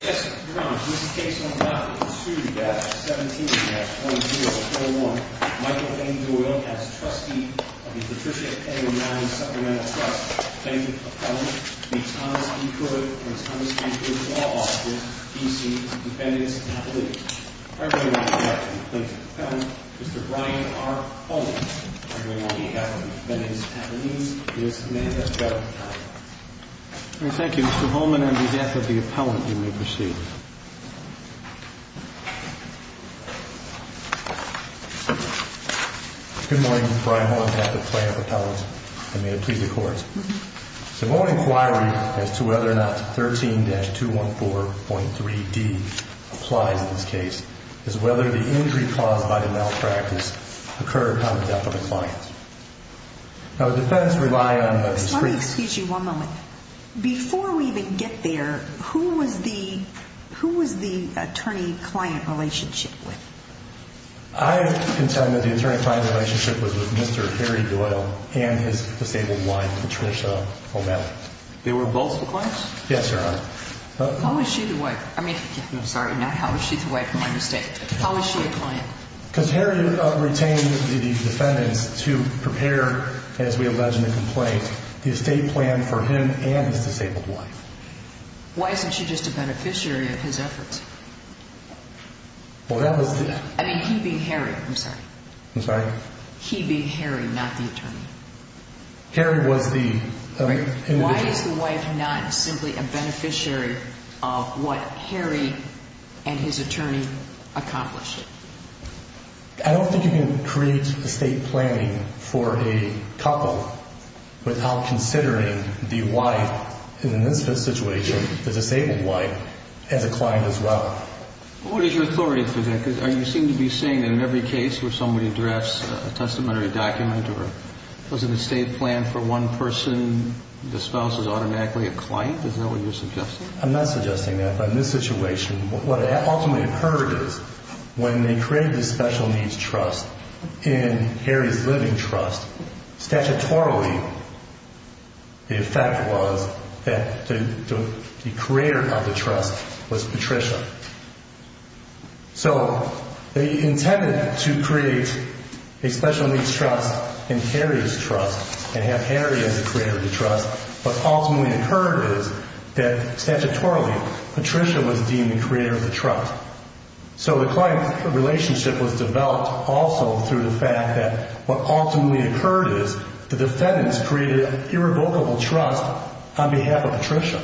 Yes, Your Honor, this case will not be pursued against 17-2041, Michael A. Doyle as trustee of the Patricia A. O'Malley Supplemental Trust, plaintiff's appellant, v. Thomas B. Hood, and Thomas B. Hood's law office, D.C., defendant's appellate. Arguing on the death of the plaintiff's appellant, Mr. Brian R. Holman, arguing on the death of the defendant's appellant, he is a man of federal power. Thank you, Mr. Holman. On behalf of the appellant, you may proceed. Good morning, Mr. Brian Holman, on behalf of the plaintiff's appellant, and may it please the Court. The moment of inquiry as to whether or not 13-214.3d applies in this case is whether the injury caused by the malpractice occurred on the death of a client. Now, the defendants rely on the district. Let me excuse you one moment. Before we even get there, who was the attorney-client relationship with? I can tell you that the attorney-client relationship was with Mr. Harry Doyle and his disabled wife, Patricia O'Malley. They were both the clients? Yes, Your Honor. How was she the wife? I mean, I'm sorry, not how was she the wife, my mistake. How was she a client? Because Harry retained the defendants to prepare, as we allege in the complaint, the estate plan for him and his disabled wife. Why isn't she just a beneficiary of his efforts? Well, that was the... I mean, he being Harry, I'm sorry. I'm sorry? He being Harry, not the attorney. Harry was the... Why is the wife not simply a beneficiary of what Harry and his attorney accomplished? I don't think you can create estate planning for a couple without considering the wife in this situation, the disabled wife, as a client as well. What is your authority for that? Because you seem to be saying that in every case where somebody drafts a testamentary document or has an estate plan for one person, the spouse is automatically a client? Is that what you're suggesting? I'm not suggesting that. What ultimately occurred is when they created the special needs trust in Harry's living trust, statutorily, the effect was that the creator of the trust was Patricia. So they intended to create a special needs trust in Harry's trust and have Harry as the creator of the trust. What ultimately occurred is that statutorily, Patricia was deemed the creator of the trust. So the client relationship was developed also through the fact that what ultimately occurred is the defendants created irrevocable trust on behalf of Patricia.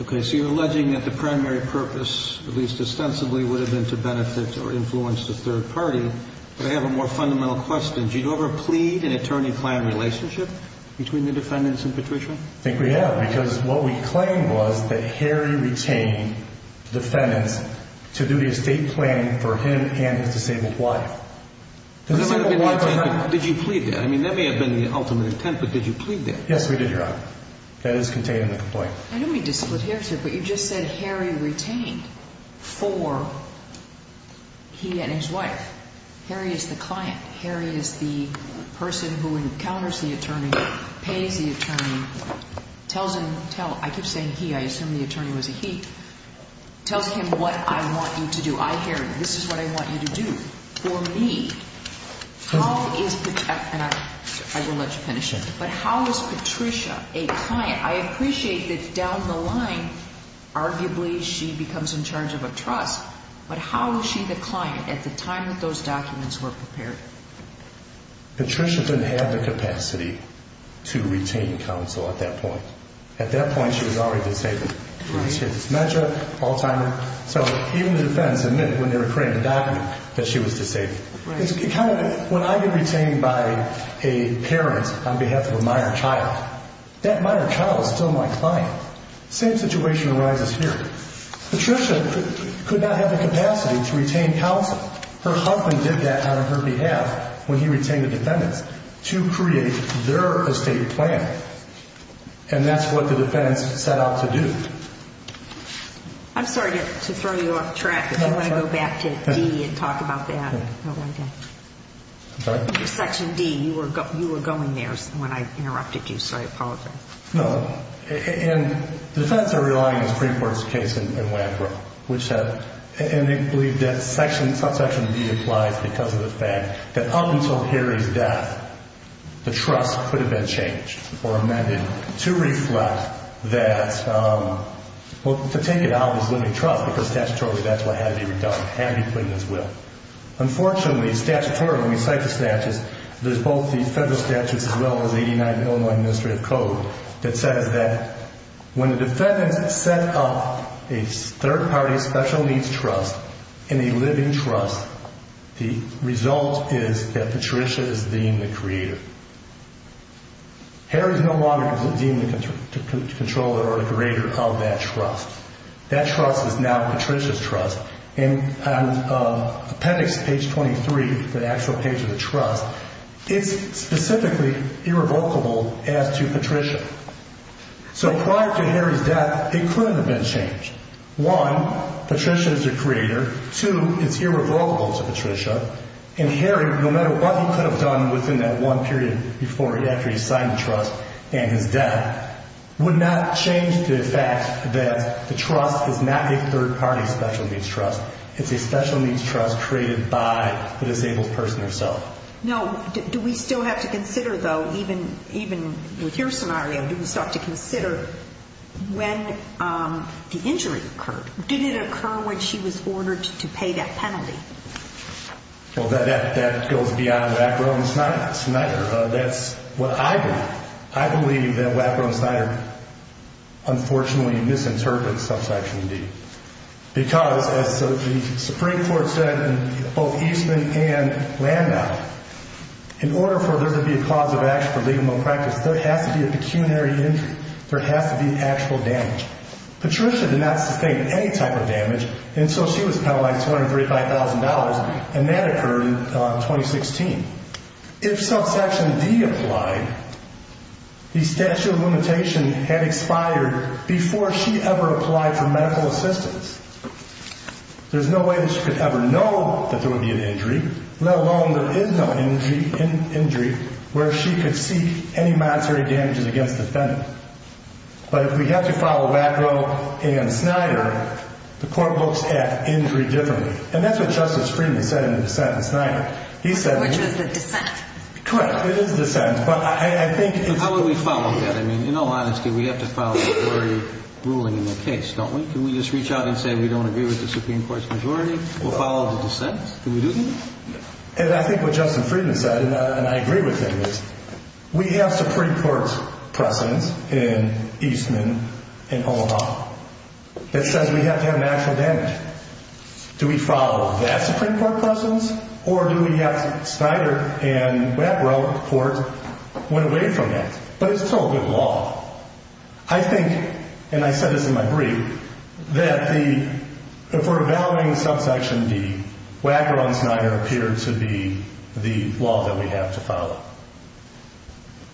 Okay, so you're alleging that the primary purpose, at least ostensibly, would have been to benefit or influence the third party. But I have a more fundamental question. Did you ever plead an attorney-client relationship between the defendants and Patricia? I think we have because what we claimed was that Harry retained defendants to do the estate planning for him and his disabled wife. Did you plead that? I mean, that may have been the ultimate intent, but did you plead that? Yes, we did, Your Honor. That is contained in the complaint. I don't mean to split hairs here, but you just said Harry retained for he and his wife. Harry is the client. Harry is the person who encounters the attorney, pays the attorney, tells him, I keep saying he, I assume the attorney was a he, tells him what I want you to do. I, Harry, this is what I want you to do for me. How is, and I will let you finish it, but how is Patricia a client? I appreciate that down the line, arguably, she becomes in charge of a trust, but how is she the client at the time that those documents were prepared? Patricia didn't have the capacity to retain counsel at that point. At that point, she was already disabled. She had dementia, Alzheimer. So even the defendants admit when they were creating the document that she was disabled. When I get retained by a parent on behalf of a minor child, that minor child is still my client. Same situation arises here. Patricia could not have the capacity to retain counsel. Her husband did that on her behalf when he retained the defendants to create their estate plan, and that's what the defendants set out to do. I'm sorry to throw you off track, but do you want to go back to D and talk about that? Section D, you were going there when I interrupted you, so I apologize. No, and the defendants are relying on the Supreme Court's case in Wampanoag, and they believe that Section D applies because of the fact that up until Harry's death, the trust could have been changed or amended to reflect that, well, to take it out was limiting trust because statutorily that's what had to be done, had to be put in his will. Unfortunately, statutorily, when we cite the statutes, there's both the federal statutes as well as 89 of the Illinois Administrative Code that says that when the defendants set up a third-party special needs trust and a living trust, the result is that Patricia is deemed the creator. Harry's no longer deemed the controller or the creator of that trust. That trust is now Patricia's trust, and on appendix page 23, the actual page of the trust, it's specifically irrevocable as to Patricia. So prior to Harry's death, it couldn't have been changed. One, Patricia is the creator. Two, it's irrevocable to Patricia, and Harry, no matter what he could have done within that one period after he signed the trust and his death, would not change the fact that the trust is not a third-party special needs trust. It's a special needs trust created by the disabled person herself. No, do we still have to consider, though, even with your scenario, do we still have to consider when the injury occurred? Did it occur when she was ordered to pay that penalty? Well, that goes beyond Wack, Rowe, and Snyder. That's what I believe. I believe that Wack, Rowe, and Snyder unfortunately misinterpret Subsection D because, as the Supreme Court said in both Eastman and Landau, in order for there to be a cause of action for legal malpractice, there has to be a pecuniary injury. There has to be actual damage. Patricia did not sustain any type of damage until she was penalized $235,000, and that occurred in 2016. If Subsection D applied, the statute of limitation had expired before she ever applied for medical assistance. There's no way that she could ever know that there would be an injury, let alone there is no injury where she could seek any monetary damages against the defendant. But if we have to follow Wack, Rowe, and Snyder, the court looks at injury differently. And that's what Justice Friedman said in the sentence, Snyder. Which was the dissent. Correct. It is dissent. How would we follow that? I mean, in all honesty, we have to follow the majority ruling in the case, don't we? Can we just reach out and say we don't agree with the Supreme Court's majority? We'll follow the dissent. Can we do that? And I think what Justice Friedman said, and I agree with him, is we have Supreme Court precedents in Eastman and Omaha that says we have to have natural damage. Do we follow that Supreme Court precedents, or do we have Snyder and Wack, Rowe court went away from that? But it's still a good law. I think, and I said this in my brief, that if we're evaluating Subsection D, Wack, Rowe, and Snyder appear to be the law that we have to follow.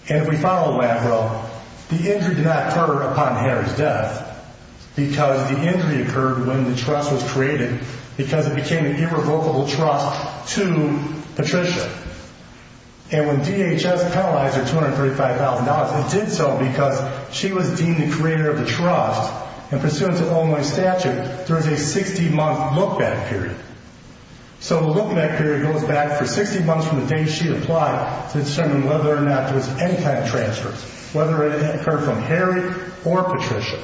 And if we follow Wack, Rowe, the injury did not occur upon Harry's death. Because the injury occurred when the trust was created, because it became an irrevocable trust to Patricia. And when DHS penalized her $235,000, it did so because she was deemed the creator of the trust. And pursuant to Illinois statute, there is a 60-month look-back period. So the look-back period goes back for 60 months from the day she applied to determine whether or not there was any kind of transfers, whether it occurred from Harry or Patricia.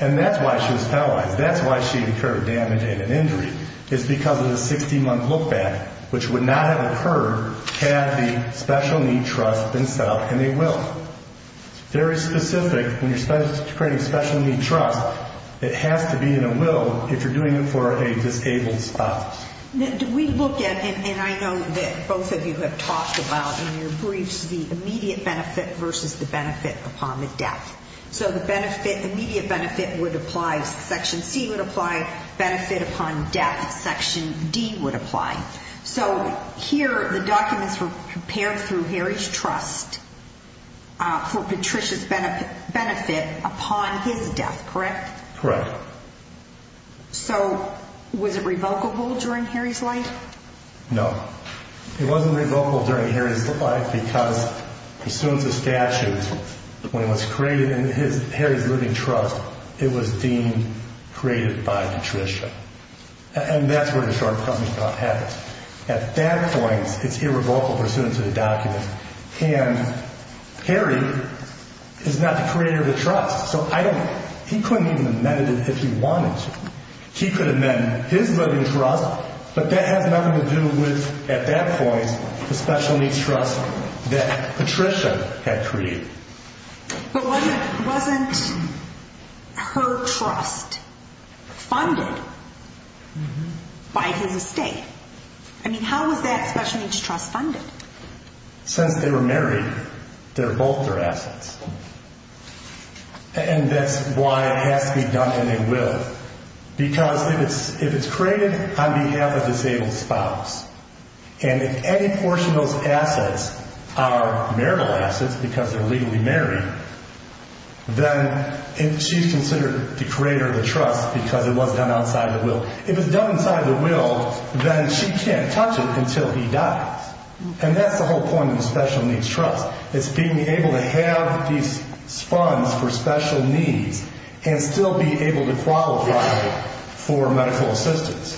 And that's why she was penalized. That's why she incurred damage in an injury, is because of the 60-month look-back, which would not have occurred had the special need trust been set up in a will. It's very specific. When you're creating special need trust, it has to be in a will if you're doing it for a disabled spouse. Do we look at, and I know that both of you have talked about in your briefs, the immediate benefit versus the benefit upon the death. So the benefit, immediate benefit would apply, Section C would apply, benefit upon death, Section D would apply. So here, the documents were prepared through Harry's trust for Patricia's benefit upon his death, correct? Correct. So was it revocable during Harry's life? No. It wasn't revocable during Harry's life because pursuant to statute, when it was created in Harry's living trust, it was deemed created by Patricia. And that's where the shortcoming about happens. At that point, it's irrevocable pursuant to the document. And Harry is not the creator of the trust, so I don't, he couldn't even amend it if he wanted to. He could amend his living trust, but that has nothing to do with, at that point, the special need trust that Patricia had created. But wasn't her trust funded by his estate? I mean, how was that special needs trust funded? Since they were married, they're both their assets. And that's why it has to be done and they will, because if it's created on behalf of a disabled spouse, and if any portion of those assets are marital assets because they're legally married, then she's considered the creator of the trust because it was done outside of the will. If it's done inside of the will, then she can't touch it until he dies. And that's the whole point of the special needs trust. It's being able to have these funds for special needs and still be able to qualify for medical assistance.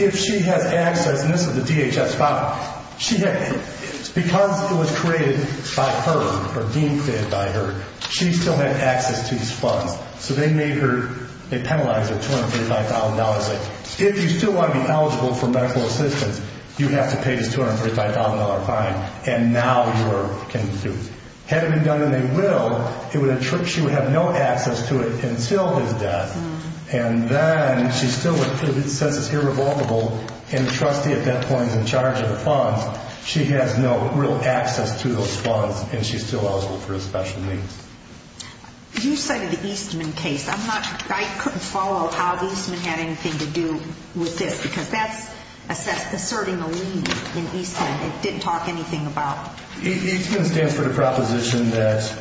If she has access, and this is the DHS file, because it was created by her or being created by her, she still had access to these funds. So they made her, they penalized her $235,000. If you still want to be eligible for medical assistance, you have to pay this $235,000 fine. And now you are, had it been done in a will, she would have no access to it until his death. And then she's still, since it's irrevocable, and the trustee at that point is in charge of the funds, she has no real access to those funds and she's still eligible for his special needs. You cited the Eastman case. I'm not, I couldn't follow how Eastman had anything to do with this, because that's asserting a lien in Eastman it didn't talk anything about. Eastman stands for the proposition that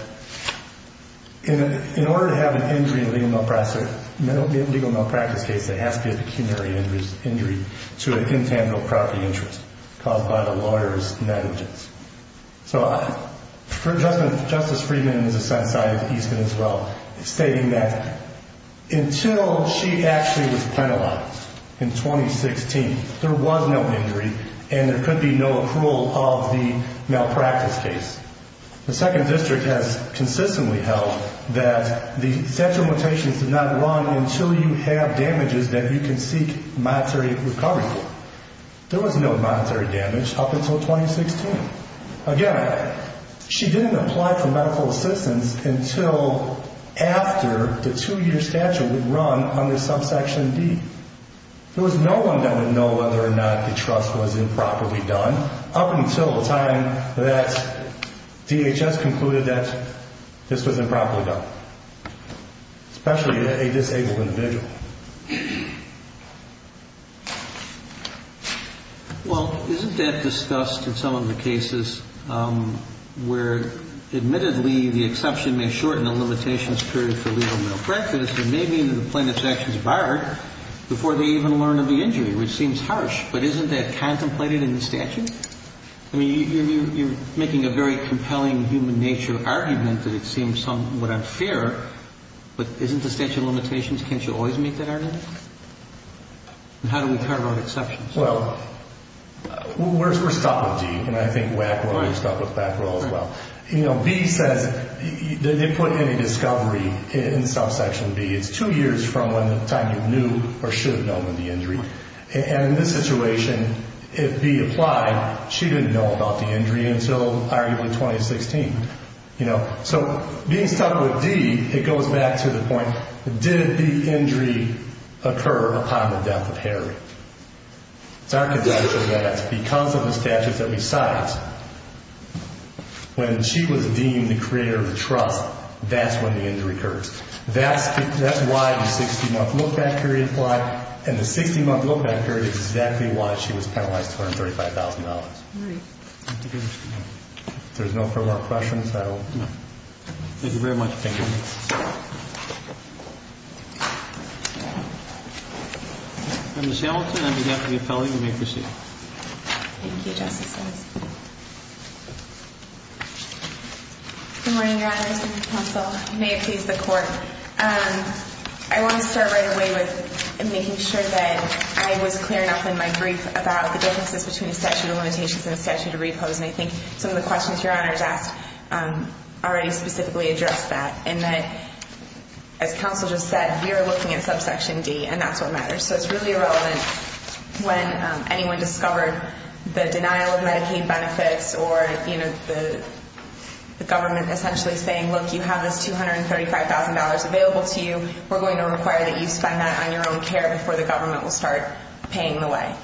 in order to have an injury in a legal malpractice case, there has to be a pecuniary injury to an intangible property interest caused by the lawyer's negligence. So for Justice Friedman, in a sense, I cited Eastman as well, stating that until she actually was penalized in 2016, there was no injury and there could be no accrual of the malpractice case. The Second District has consistently held that the statute of limitations does not run until you have damages that you can seek monetary recovery for. There was no monetary damage up until 2016. Again, she didn't apply for medical assistance until after the two-year statute would run under subsection D. There was no one that would know whether or not the trust was improperly done, up until the time that DHS concluded that this was improperly done, especially a disabled individual. Well, isn't that discussed in some of the cases where, admittedly, the exception may shorten the limitations period for legal malpractice, but maybe the plaintiff's action is barred before they even learn of the injury, which seems harsh. But isn't that contemplated in the statute? I mean, you're making a very compelling human nature argument that it seems somewhat unfair, but isn't the statute of limitations, can't you always make that argument? And how do we talk about exceptions? Well, we're stuck with D, and I think WAC will be stuck with BAC as well. You know, B says they put in a discovery in subsection B. It's two years from the time you knew or should have known of the injury. And in this situation, if B applied, she didn't know about the injury until arguably 2016. So being stuck with D, it goes back to the point, did the injury occur upon the death of Harry? It's our conjecture that because of the statute that we cite, when she was deemed the creator of the trust, that's when the injury occurs. That's why the 60-month look-back period applied, and the 60-month look-back period is exactly why she was penalized to earn $35,000. All right. Thank you very much. If there's no further questions, I will. Thank you very much. Thank you. Thank you. Ms. Hamilton, on behalf of the appellee, you may proceed. Thank you, Justice Stiles. Good morning, Your Honors and counsel. May it please the Court. I want to start right away with making sure that I was clear enough in my brief about the differences between a statute of limitations and a statute of repose, and I think some of the questions Your Honors asked already specifically address that, and that, as counsel just said, we are looking at subsection D, and that's what matters. So it's really irrelevant when anyone discovered the denial of Medicaid benefits or the government essentially saying, look, you have this $235,000 available to you. We're going to require that you spend that on your own care before the government will start paying the way.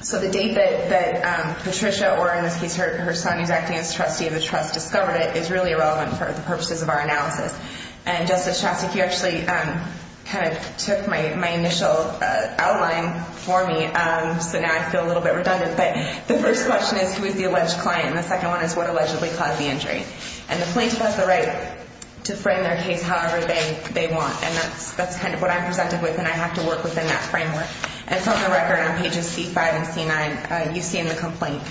So the date that Patricia, or in this case her son who's acting as trustee of the trust, discovered it is really irrelevant for the purposes of our analysis. And, Justice Shostak, you actually kind of took my initial outline for me, so now I feel a little bit redundant, but the first question is who is the alleged client, and the second one is what allegedly caused the injury. And the plaintiff has the right to frame their case however they want, and that's kind of what I'm presented with, and I have to work within that framework. And from the record on pages C-5 and C-9, you see in the complaint,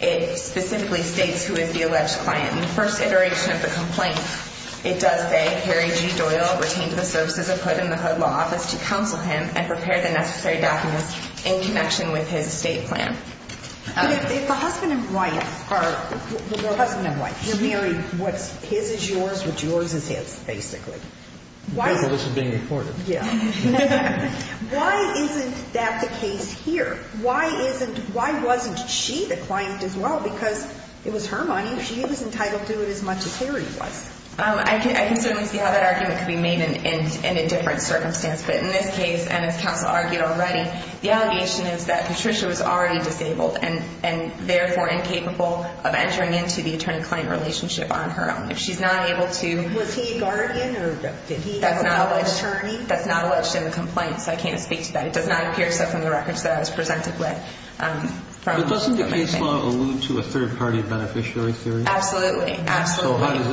it specifically states who is the alleged client. In the first iteration of the complaint, it does say, Harry G. Doyle retained the services of HUD in the HUD law office to counsel him and prepare the necessary documents in connection with his state plan. But if the husband and wife are married, what's his is yours, what's yours is his, basically. This is being recorded. Why isn't that the case here? Why isn't, why wasn't she the client as well? Because it was her money, she was entitled to it as much as Harry was. I can certainly see how that argument could be made in a different circumstance, but in this case, and as counsel argued already, the allegation is that Patricia was already disabled, and therefore incapable of entering into the attorney-client relationship on her own. If she's not able to… Was he a guardian, or did he have an attorney? That's not alleged in the complaint, so I can't speak to that. It does not appear, except in the records that I was presented with. But doesn't the case law allude to a third-party beneficiary theory? Absolutely, absolutely. So how does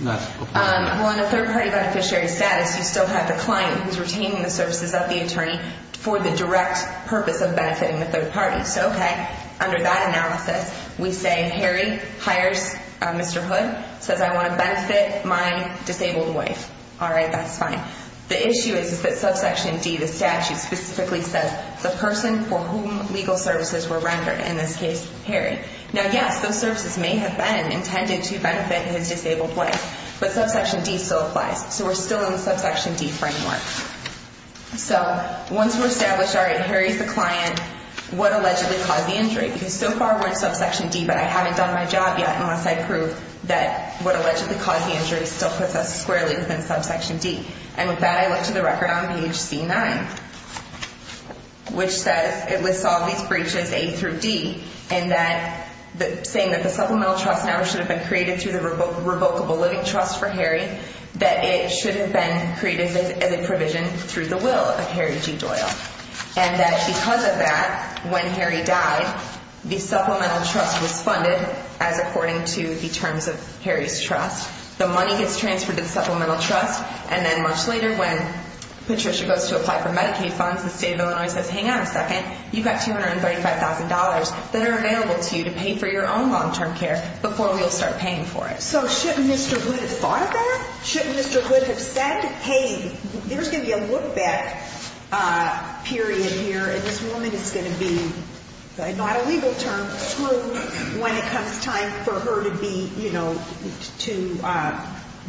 that apply? Well, in a third-party beneficiary status, you still have the client who's retaining the services of the attorney for the direct purpose of benefiting the third party. So, okay, under that analysis, we say Harry hires Mr. Hood, says, I want to benefit my disabled wife. All right, that's fine. The issue is that subsection D, the statute, specifically says the person for whom legal services were rendered, in this case, Harry. Now, yes, those services may have been intended to benefit his disabled wife, but subsection D still applies. So we're still in the subsection D framework. So once we're established, all right, Harry's the client, what allegedly caused the injury? Because so far we're in subsection D, but I haven't done my job yet unless I prove that what allegedly caused the injury still puts us squarely within subsection D. And with that, I went to the record on page C9, which says it lists all these breaches, A through D, and that saying that the supplemental trust now should have been created through the revocable living trust for Harry, that it should have been created as a provision through the will of Harry G. Doyle. And that because of that, when Harry died, the supplemental trust was funded as according to the terms of Harry's trust. The money gets transferred to the supplemental trust, and then much later when Patricia goes to apply for Medicaid funds, the state of Illinois says, hang on a second, you've got $235,000 that are available to you to pay for your own long-term care before we'll start paying for it. So shouldn't Mr. Hood have thought of that? Shouldn't Mr. Hood have said, hey, there's going to be a look-back period here, and this woman is going to be, not a legal term, screwed when it comes time for her to be, you know, to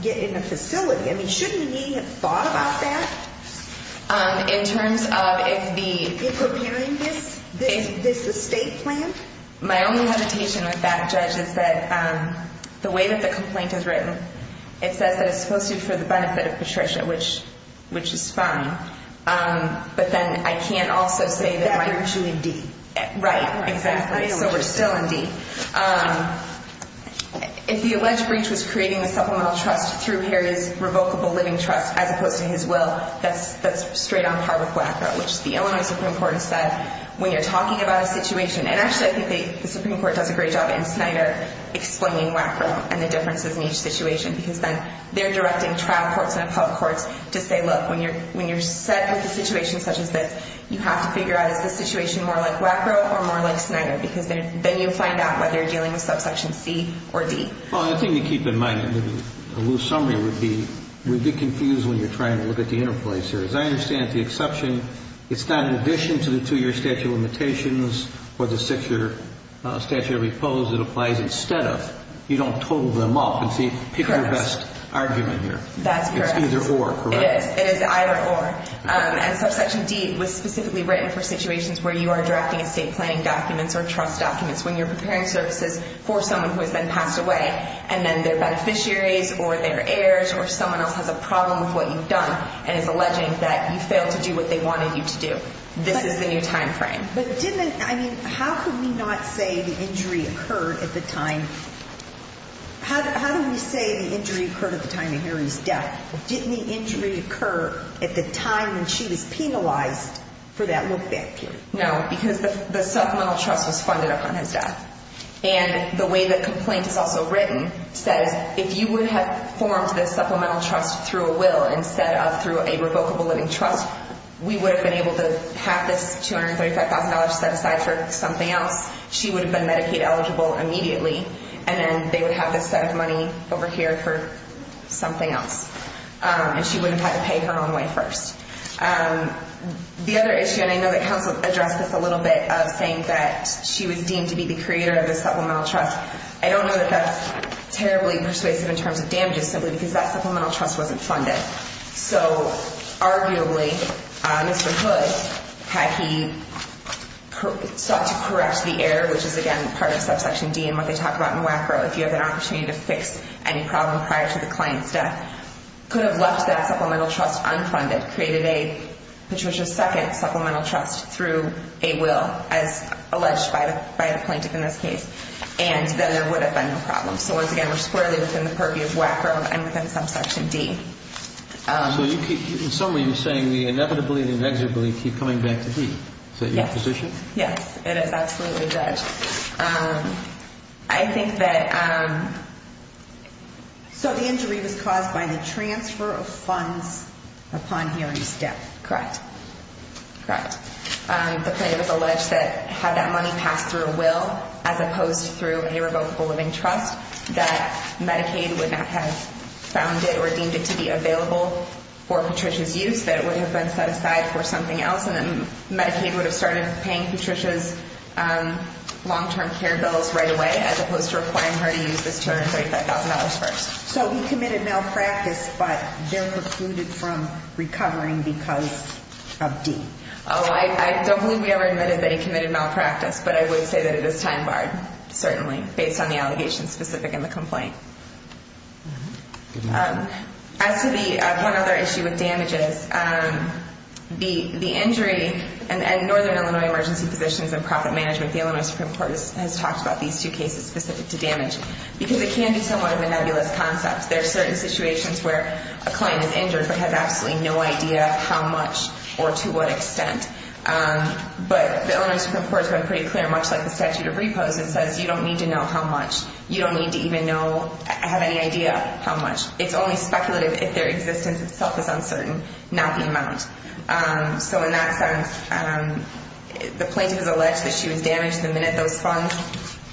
get in a facility. I mean, shouldn't he have thought about that? In terms of if the— In preparing this estate plan? My only hesitation with that, Judge, is that the way that the complaint is written, it says that it's supposed to be for the benefit of Patricia, which is fine, but then I can't also say that my— That brings you in deep. Right, exactly. So we're still in deep. If the alleged breach was creating the supplemental trust through Harry's revocable living trust as opposed to his will, that's straight on par with WACRO, which the Illinois Supreme Court has said when you're talking about a situation, and actually I think the Supreme Court does a great job in Snyder explaining WACRO and the differences in each situation, because then they're directing trial courts and appellate courts to say, look, when you're set with a situation such as this, you have to figure out is this situation more like WACRO or more like Snyder, because then you find out whether you're dealing with subsection C or D. Well, I think to keep in mind, a loose summary would be we'd be confused when you're trying to look at the interplacer. As I understand it, the exception, it's not in addition to the two-year statute of limitations or the six-year statute of repose that applies instead of. You don't total them up. Correct. Pick your best argument here. That's correct. It's either or, correct? It is. It is either or. And subsection D was specifically written for situations where you are drafting estate planning documents or trust documents when you're preparing services for someone who has been passed away and then their beneficiaries or their heirs or someone else has a problem with what you've done and is alleging that you failed to do what they wanted you to do. This is the new timeframe. But didn't it, I mean, how could we not say the injury occurred at the time? How do we say the injury occurred at the time of Harry's death? Didn't the injury occur at the time when she was penalized for that look-back period? No, because the supplemental trust was funded up on his death. And the way the complaint is also written says, if you would have formed this supplemental trust through a will instead of through a revocable living trust, we would have been able to have this $235,000 set aside for something else. She would have been Medicaid eligible immediately. And then they would have this set of money over here for something else. And she wouldn't have had to pay her own way first. The other issue, and I know that counsel addressed this a little bit, of saying that she was deemed to be the creator of the supplemental trust. I don't know that that's terribly persuasive in terms of damages simply because that supplemental trust wasn't funded. So arguably, Mr. Hood, had he sought to correct the error, which is, again, part of subsection D and what they talk about in WACRO, if you have an opportunity to fix any problem prior to the client's death, could have left that supplemental trust unfunded, created a Patricia's Second Supplemental Trust through a will, as alleged by the plaintiff in this case. And then there would have been no problem. So once again, we're squarely within the purview of WACRO and within subsection D. So in summary, you're saying the inevitably and inexorably keep coming back to D. Is that your position? Yes. It is absolutely judged. I think that the injury was caused by the transfer of funds upon hearing step. Correct. Correct. through a revocable living trust that Medicaid would not have found it or deemed it to be available for Patricia's use, that it would have been set aside for something else, and then Medicaid would have started paying Patricia's long-term care bills right away, as opposed to requiring her to use this $235,000 first. So he committed malpractice, but they're precluded from recovering because of D. Oh, I don't believe we ever admitted that he committed malpractice, but I would say that it is time-barred, certainly, based on the allegations specific in the complaint. As to the one other issue with damages, the injury at Northern Illinois Emergency Physicians and Profit Management, the Illinois Supreme Court has talked about these two cases specific to damage because it can be somewhat of a nebulous concept. There are certain situations where a client is injured but has absolutely no idea how much or to what extent. But the Illinois Supreme Court has been pretty clear, much like the statute of repose, it says you don't need to know how much. You don't need to even have any idea how much. It's only speculative if their existence itself is uncertain, not the amount. So in that sense, the plaintiff has alleged that she was damaged the minute those funds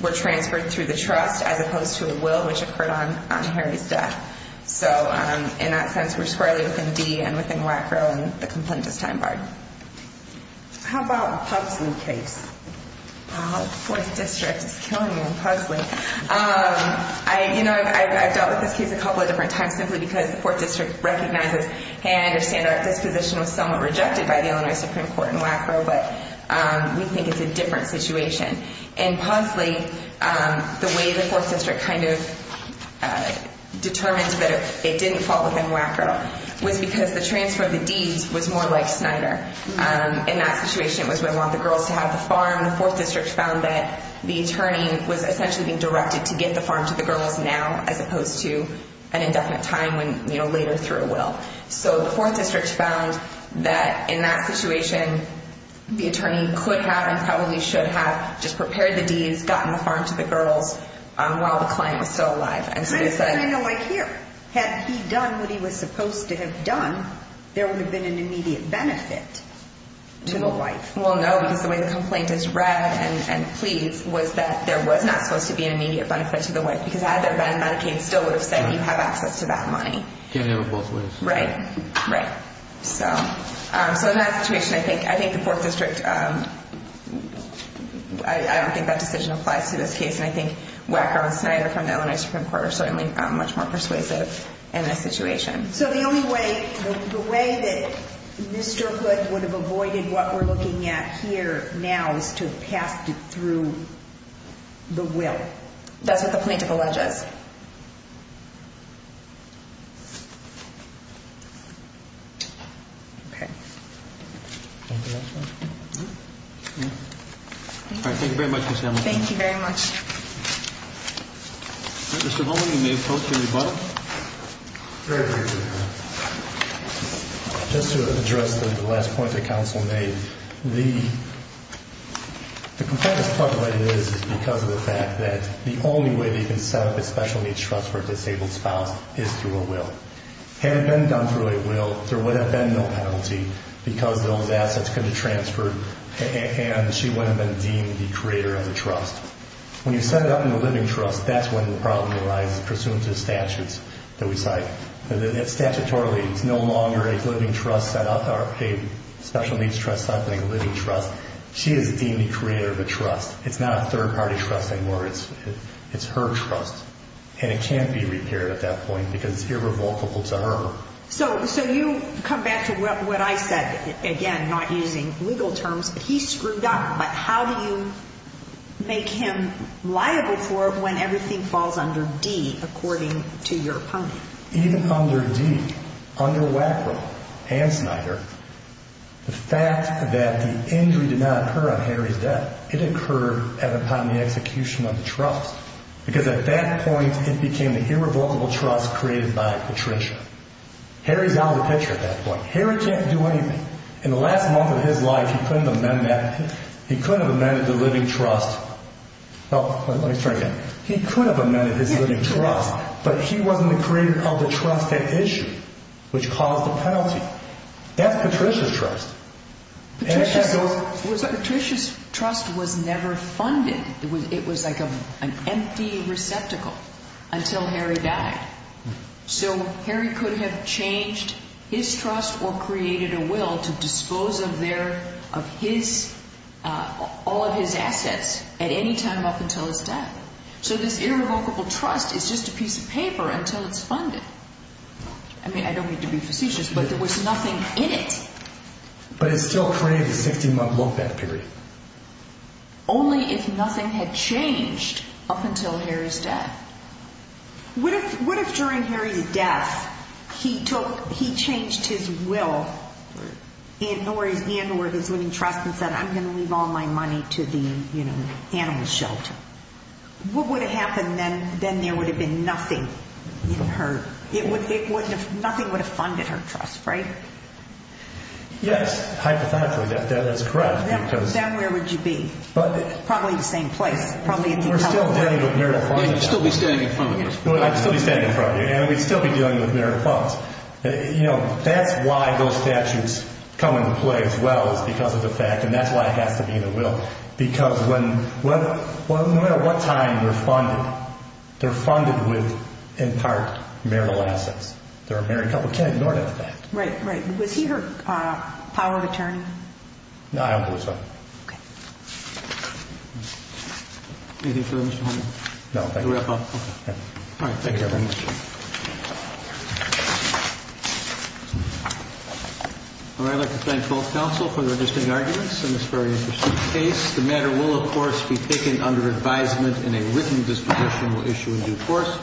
were transferred through the trust, as opposed to a will which occurred on Harry's death. So in that sense, we're squarely within Dee and within Wackrow and the complaint is time-barred. How about the Puzzley case? Wow, the Fourth District is killing me on Puzzley. I've dealt with this case a couple of different times simply because the Fourth District recognizes, hey, I understand our disposition was somewhat rejected by the Illinois Supreme Court in Wackrow, but we think it's a different situation. And Puzzley, the way the Fourth District kind of determined that it didn't fall within Wackrow was because the transfer of the deeds was more like Snyder. In that situation, it was, we want the girls to have the farm. The Fourth District found that the attorney was essentially being directed to get the farm to the girls now, as opposed to an indefinite time when, you know, later through a will. So the Fourth District found that in that situation, the attorney could have and probably should have just prepared the deeds, gotten the farm to the girls while the client was still alive. I know right here. Had he done what he was supposed to have done, there would have been an immediate benefit to the wife. Well, no, because the way the complaint is read and pleased was that there was not supposed to be an immediate benefit to the wife because had there been, Medicaid still would have said you have access to that money. Right, right. So in that situation, I think the Fourth District, I don't think that decision applies to this case, and I think Wackrow and Snyder from the Illinois Supreme Court are certainly much more persuasive in this situation. So the only way, the way that Mr. Hood would have avoided what we're looking at here now is to have passed it through the will. That's what the plaintiff alleges. Okay. Thank you very much, Ms. Hamlin. Thank you very much. Mr. Holman, you may close your rebuttal. Very briefly. Just to address the last point that counsel made, the complaint that's talked about is because of the fact that the only way that you can set up a special needs trust for a disabled spouse is through a will. Had it been done through a will, there would have been no penalty because those assets could have been transferred and she would have been deemed the creator of the trust. When you set it up in the living trust, that's when the problem arises pursuant to the statutes that we cite. Statutorily, it's no longer a living trust set up or a special needs trust set up, a living trust. She is deemed the creator of the trust. It's not a third-party trust anymore. It's her trust, and it can't be repaired at that point because it's irrevocable to her. So you come back to what I said, again, not using legal terms. He screwed up, but how do you make him liable for it when everything falls under D, according to your opponent? Even under D, under Wackrell and Snyder, the fact that the injury did not occur on Henry's death, it occurred upon the execution of the trust because at that point it became the irrevocable trust created by Patricia. Henry's out of the picture at that point. Henry can't do anything. In the last month of his life, he couldn't have amended that. He couldn't have amended the living trust. Let me start again. He could have amended his living trust, but he wasn't the creator of the trust at issue, which caused the penalty. That's Patricia's trust. Patricia's trust was never funded. It was like an empty receptacle until Henry died. So Henry could have changed his trust or created a will to dispose of all of his assets at any time up until his death. So this irrevocable trust is just a piece of paper until it's funded. I mean, I don't mean to be facetious, but there was nothing in it. But it still created a 60-month low-bet period. Only if nothing had changed up until Henry's death. What if during Henry's death he changed his will or his living trust and said, I'm going to leave all my money to the animal shelter? What would have happened then? Then there would have been nothing in her. Nothing would have funded her trust, right? Yes, hypothetically, that is correct. Then where would you be? Probably in the same place. You'd still be standing in front of her. I'd still be standing in front of her, and we'd still be dealing with marital funds. That's why those statutes come into play as well, is because of the fact, and that's why it has to be in the will. Because no matter what time they're funded, they're funded with, in part, marital assets. They're a married couple. You can't ignore that fact. Right, right. Was he her power of attorney? No, I don't believe so. Okay. Anything further, Mr. Henry? No, thank you. All right, thank you very much. I'd like to thank both counsel for their distinct arguments in this very interesting case. The matter will, of course, be taken under advisement, and a written disposition will issue in due course.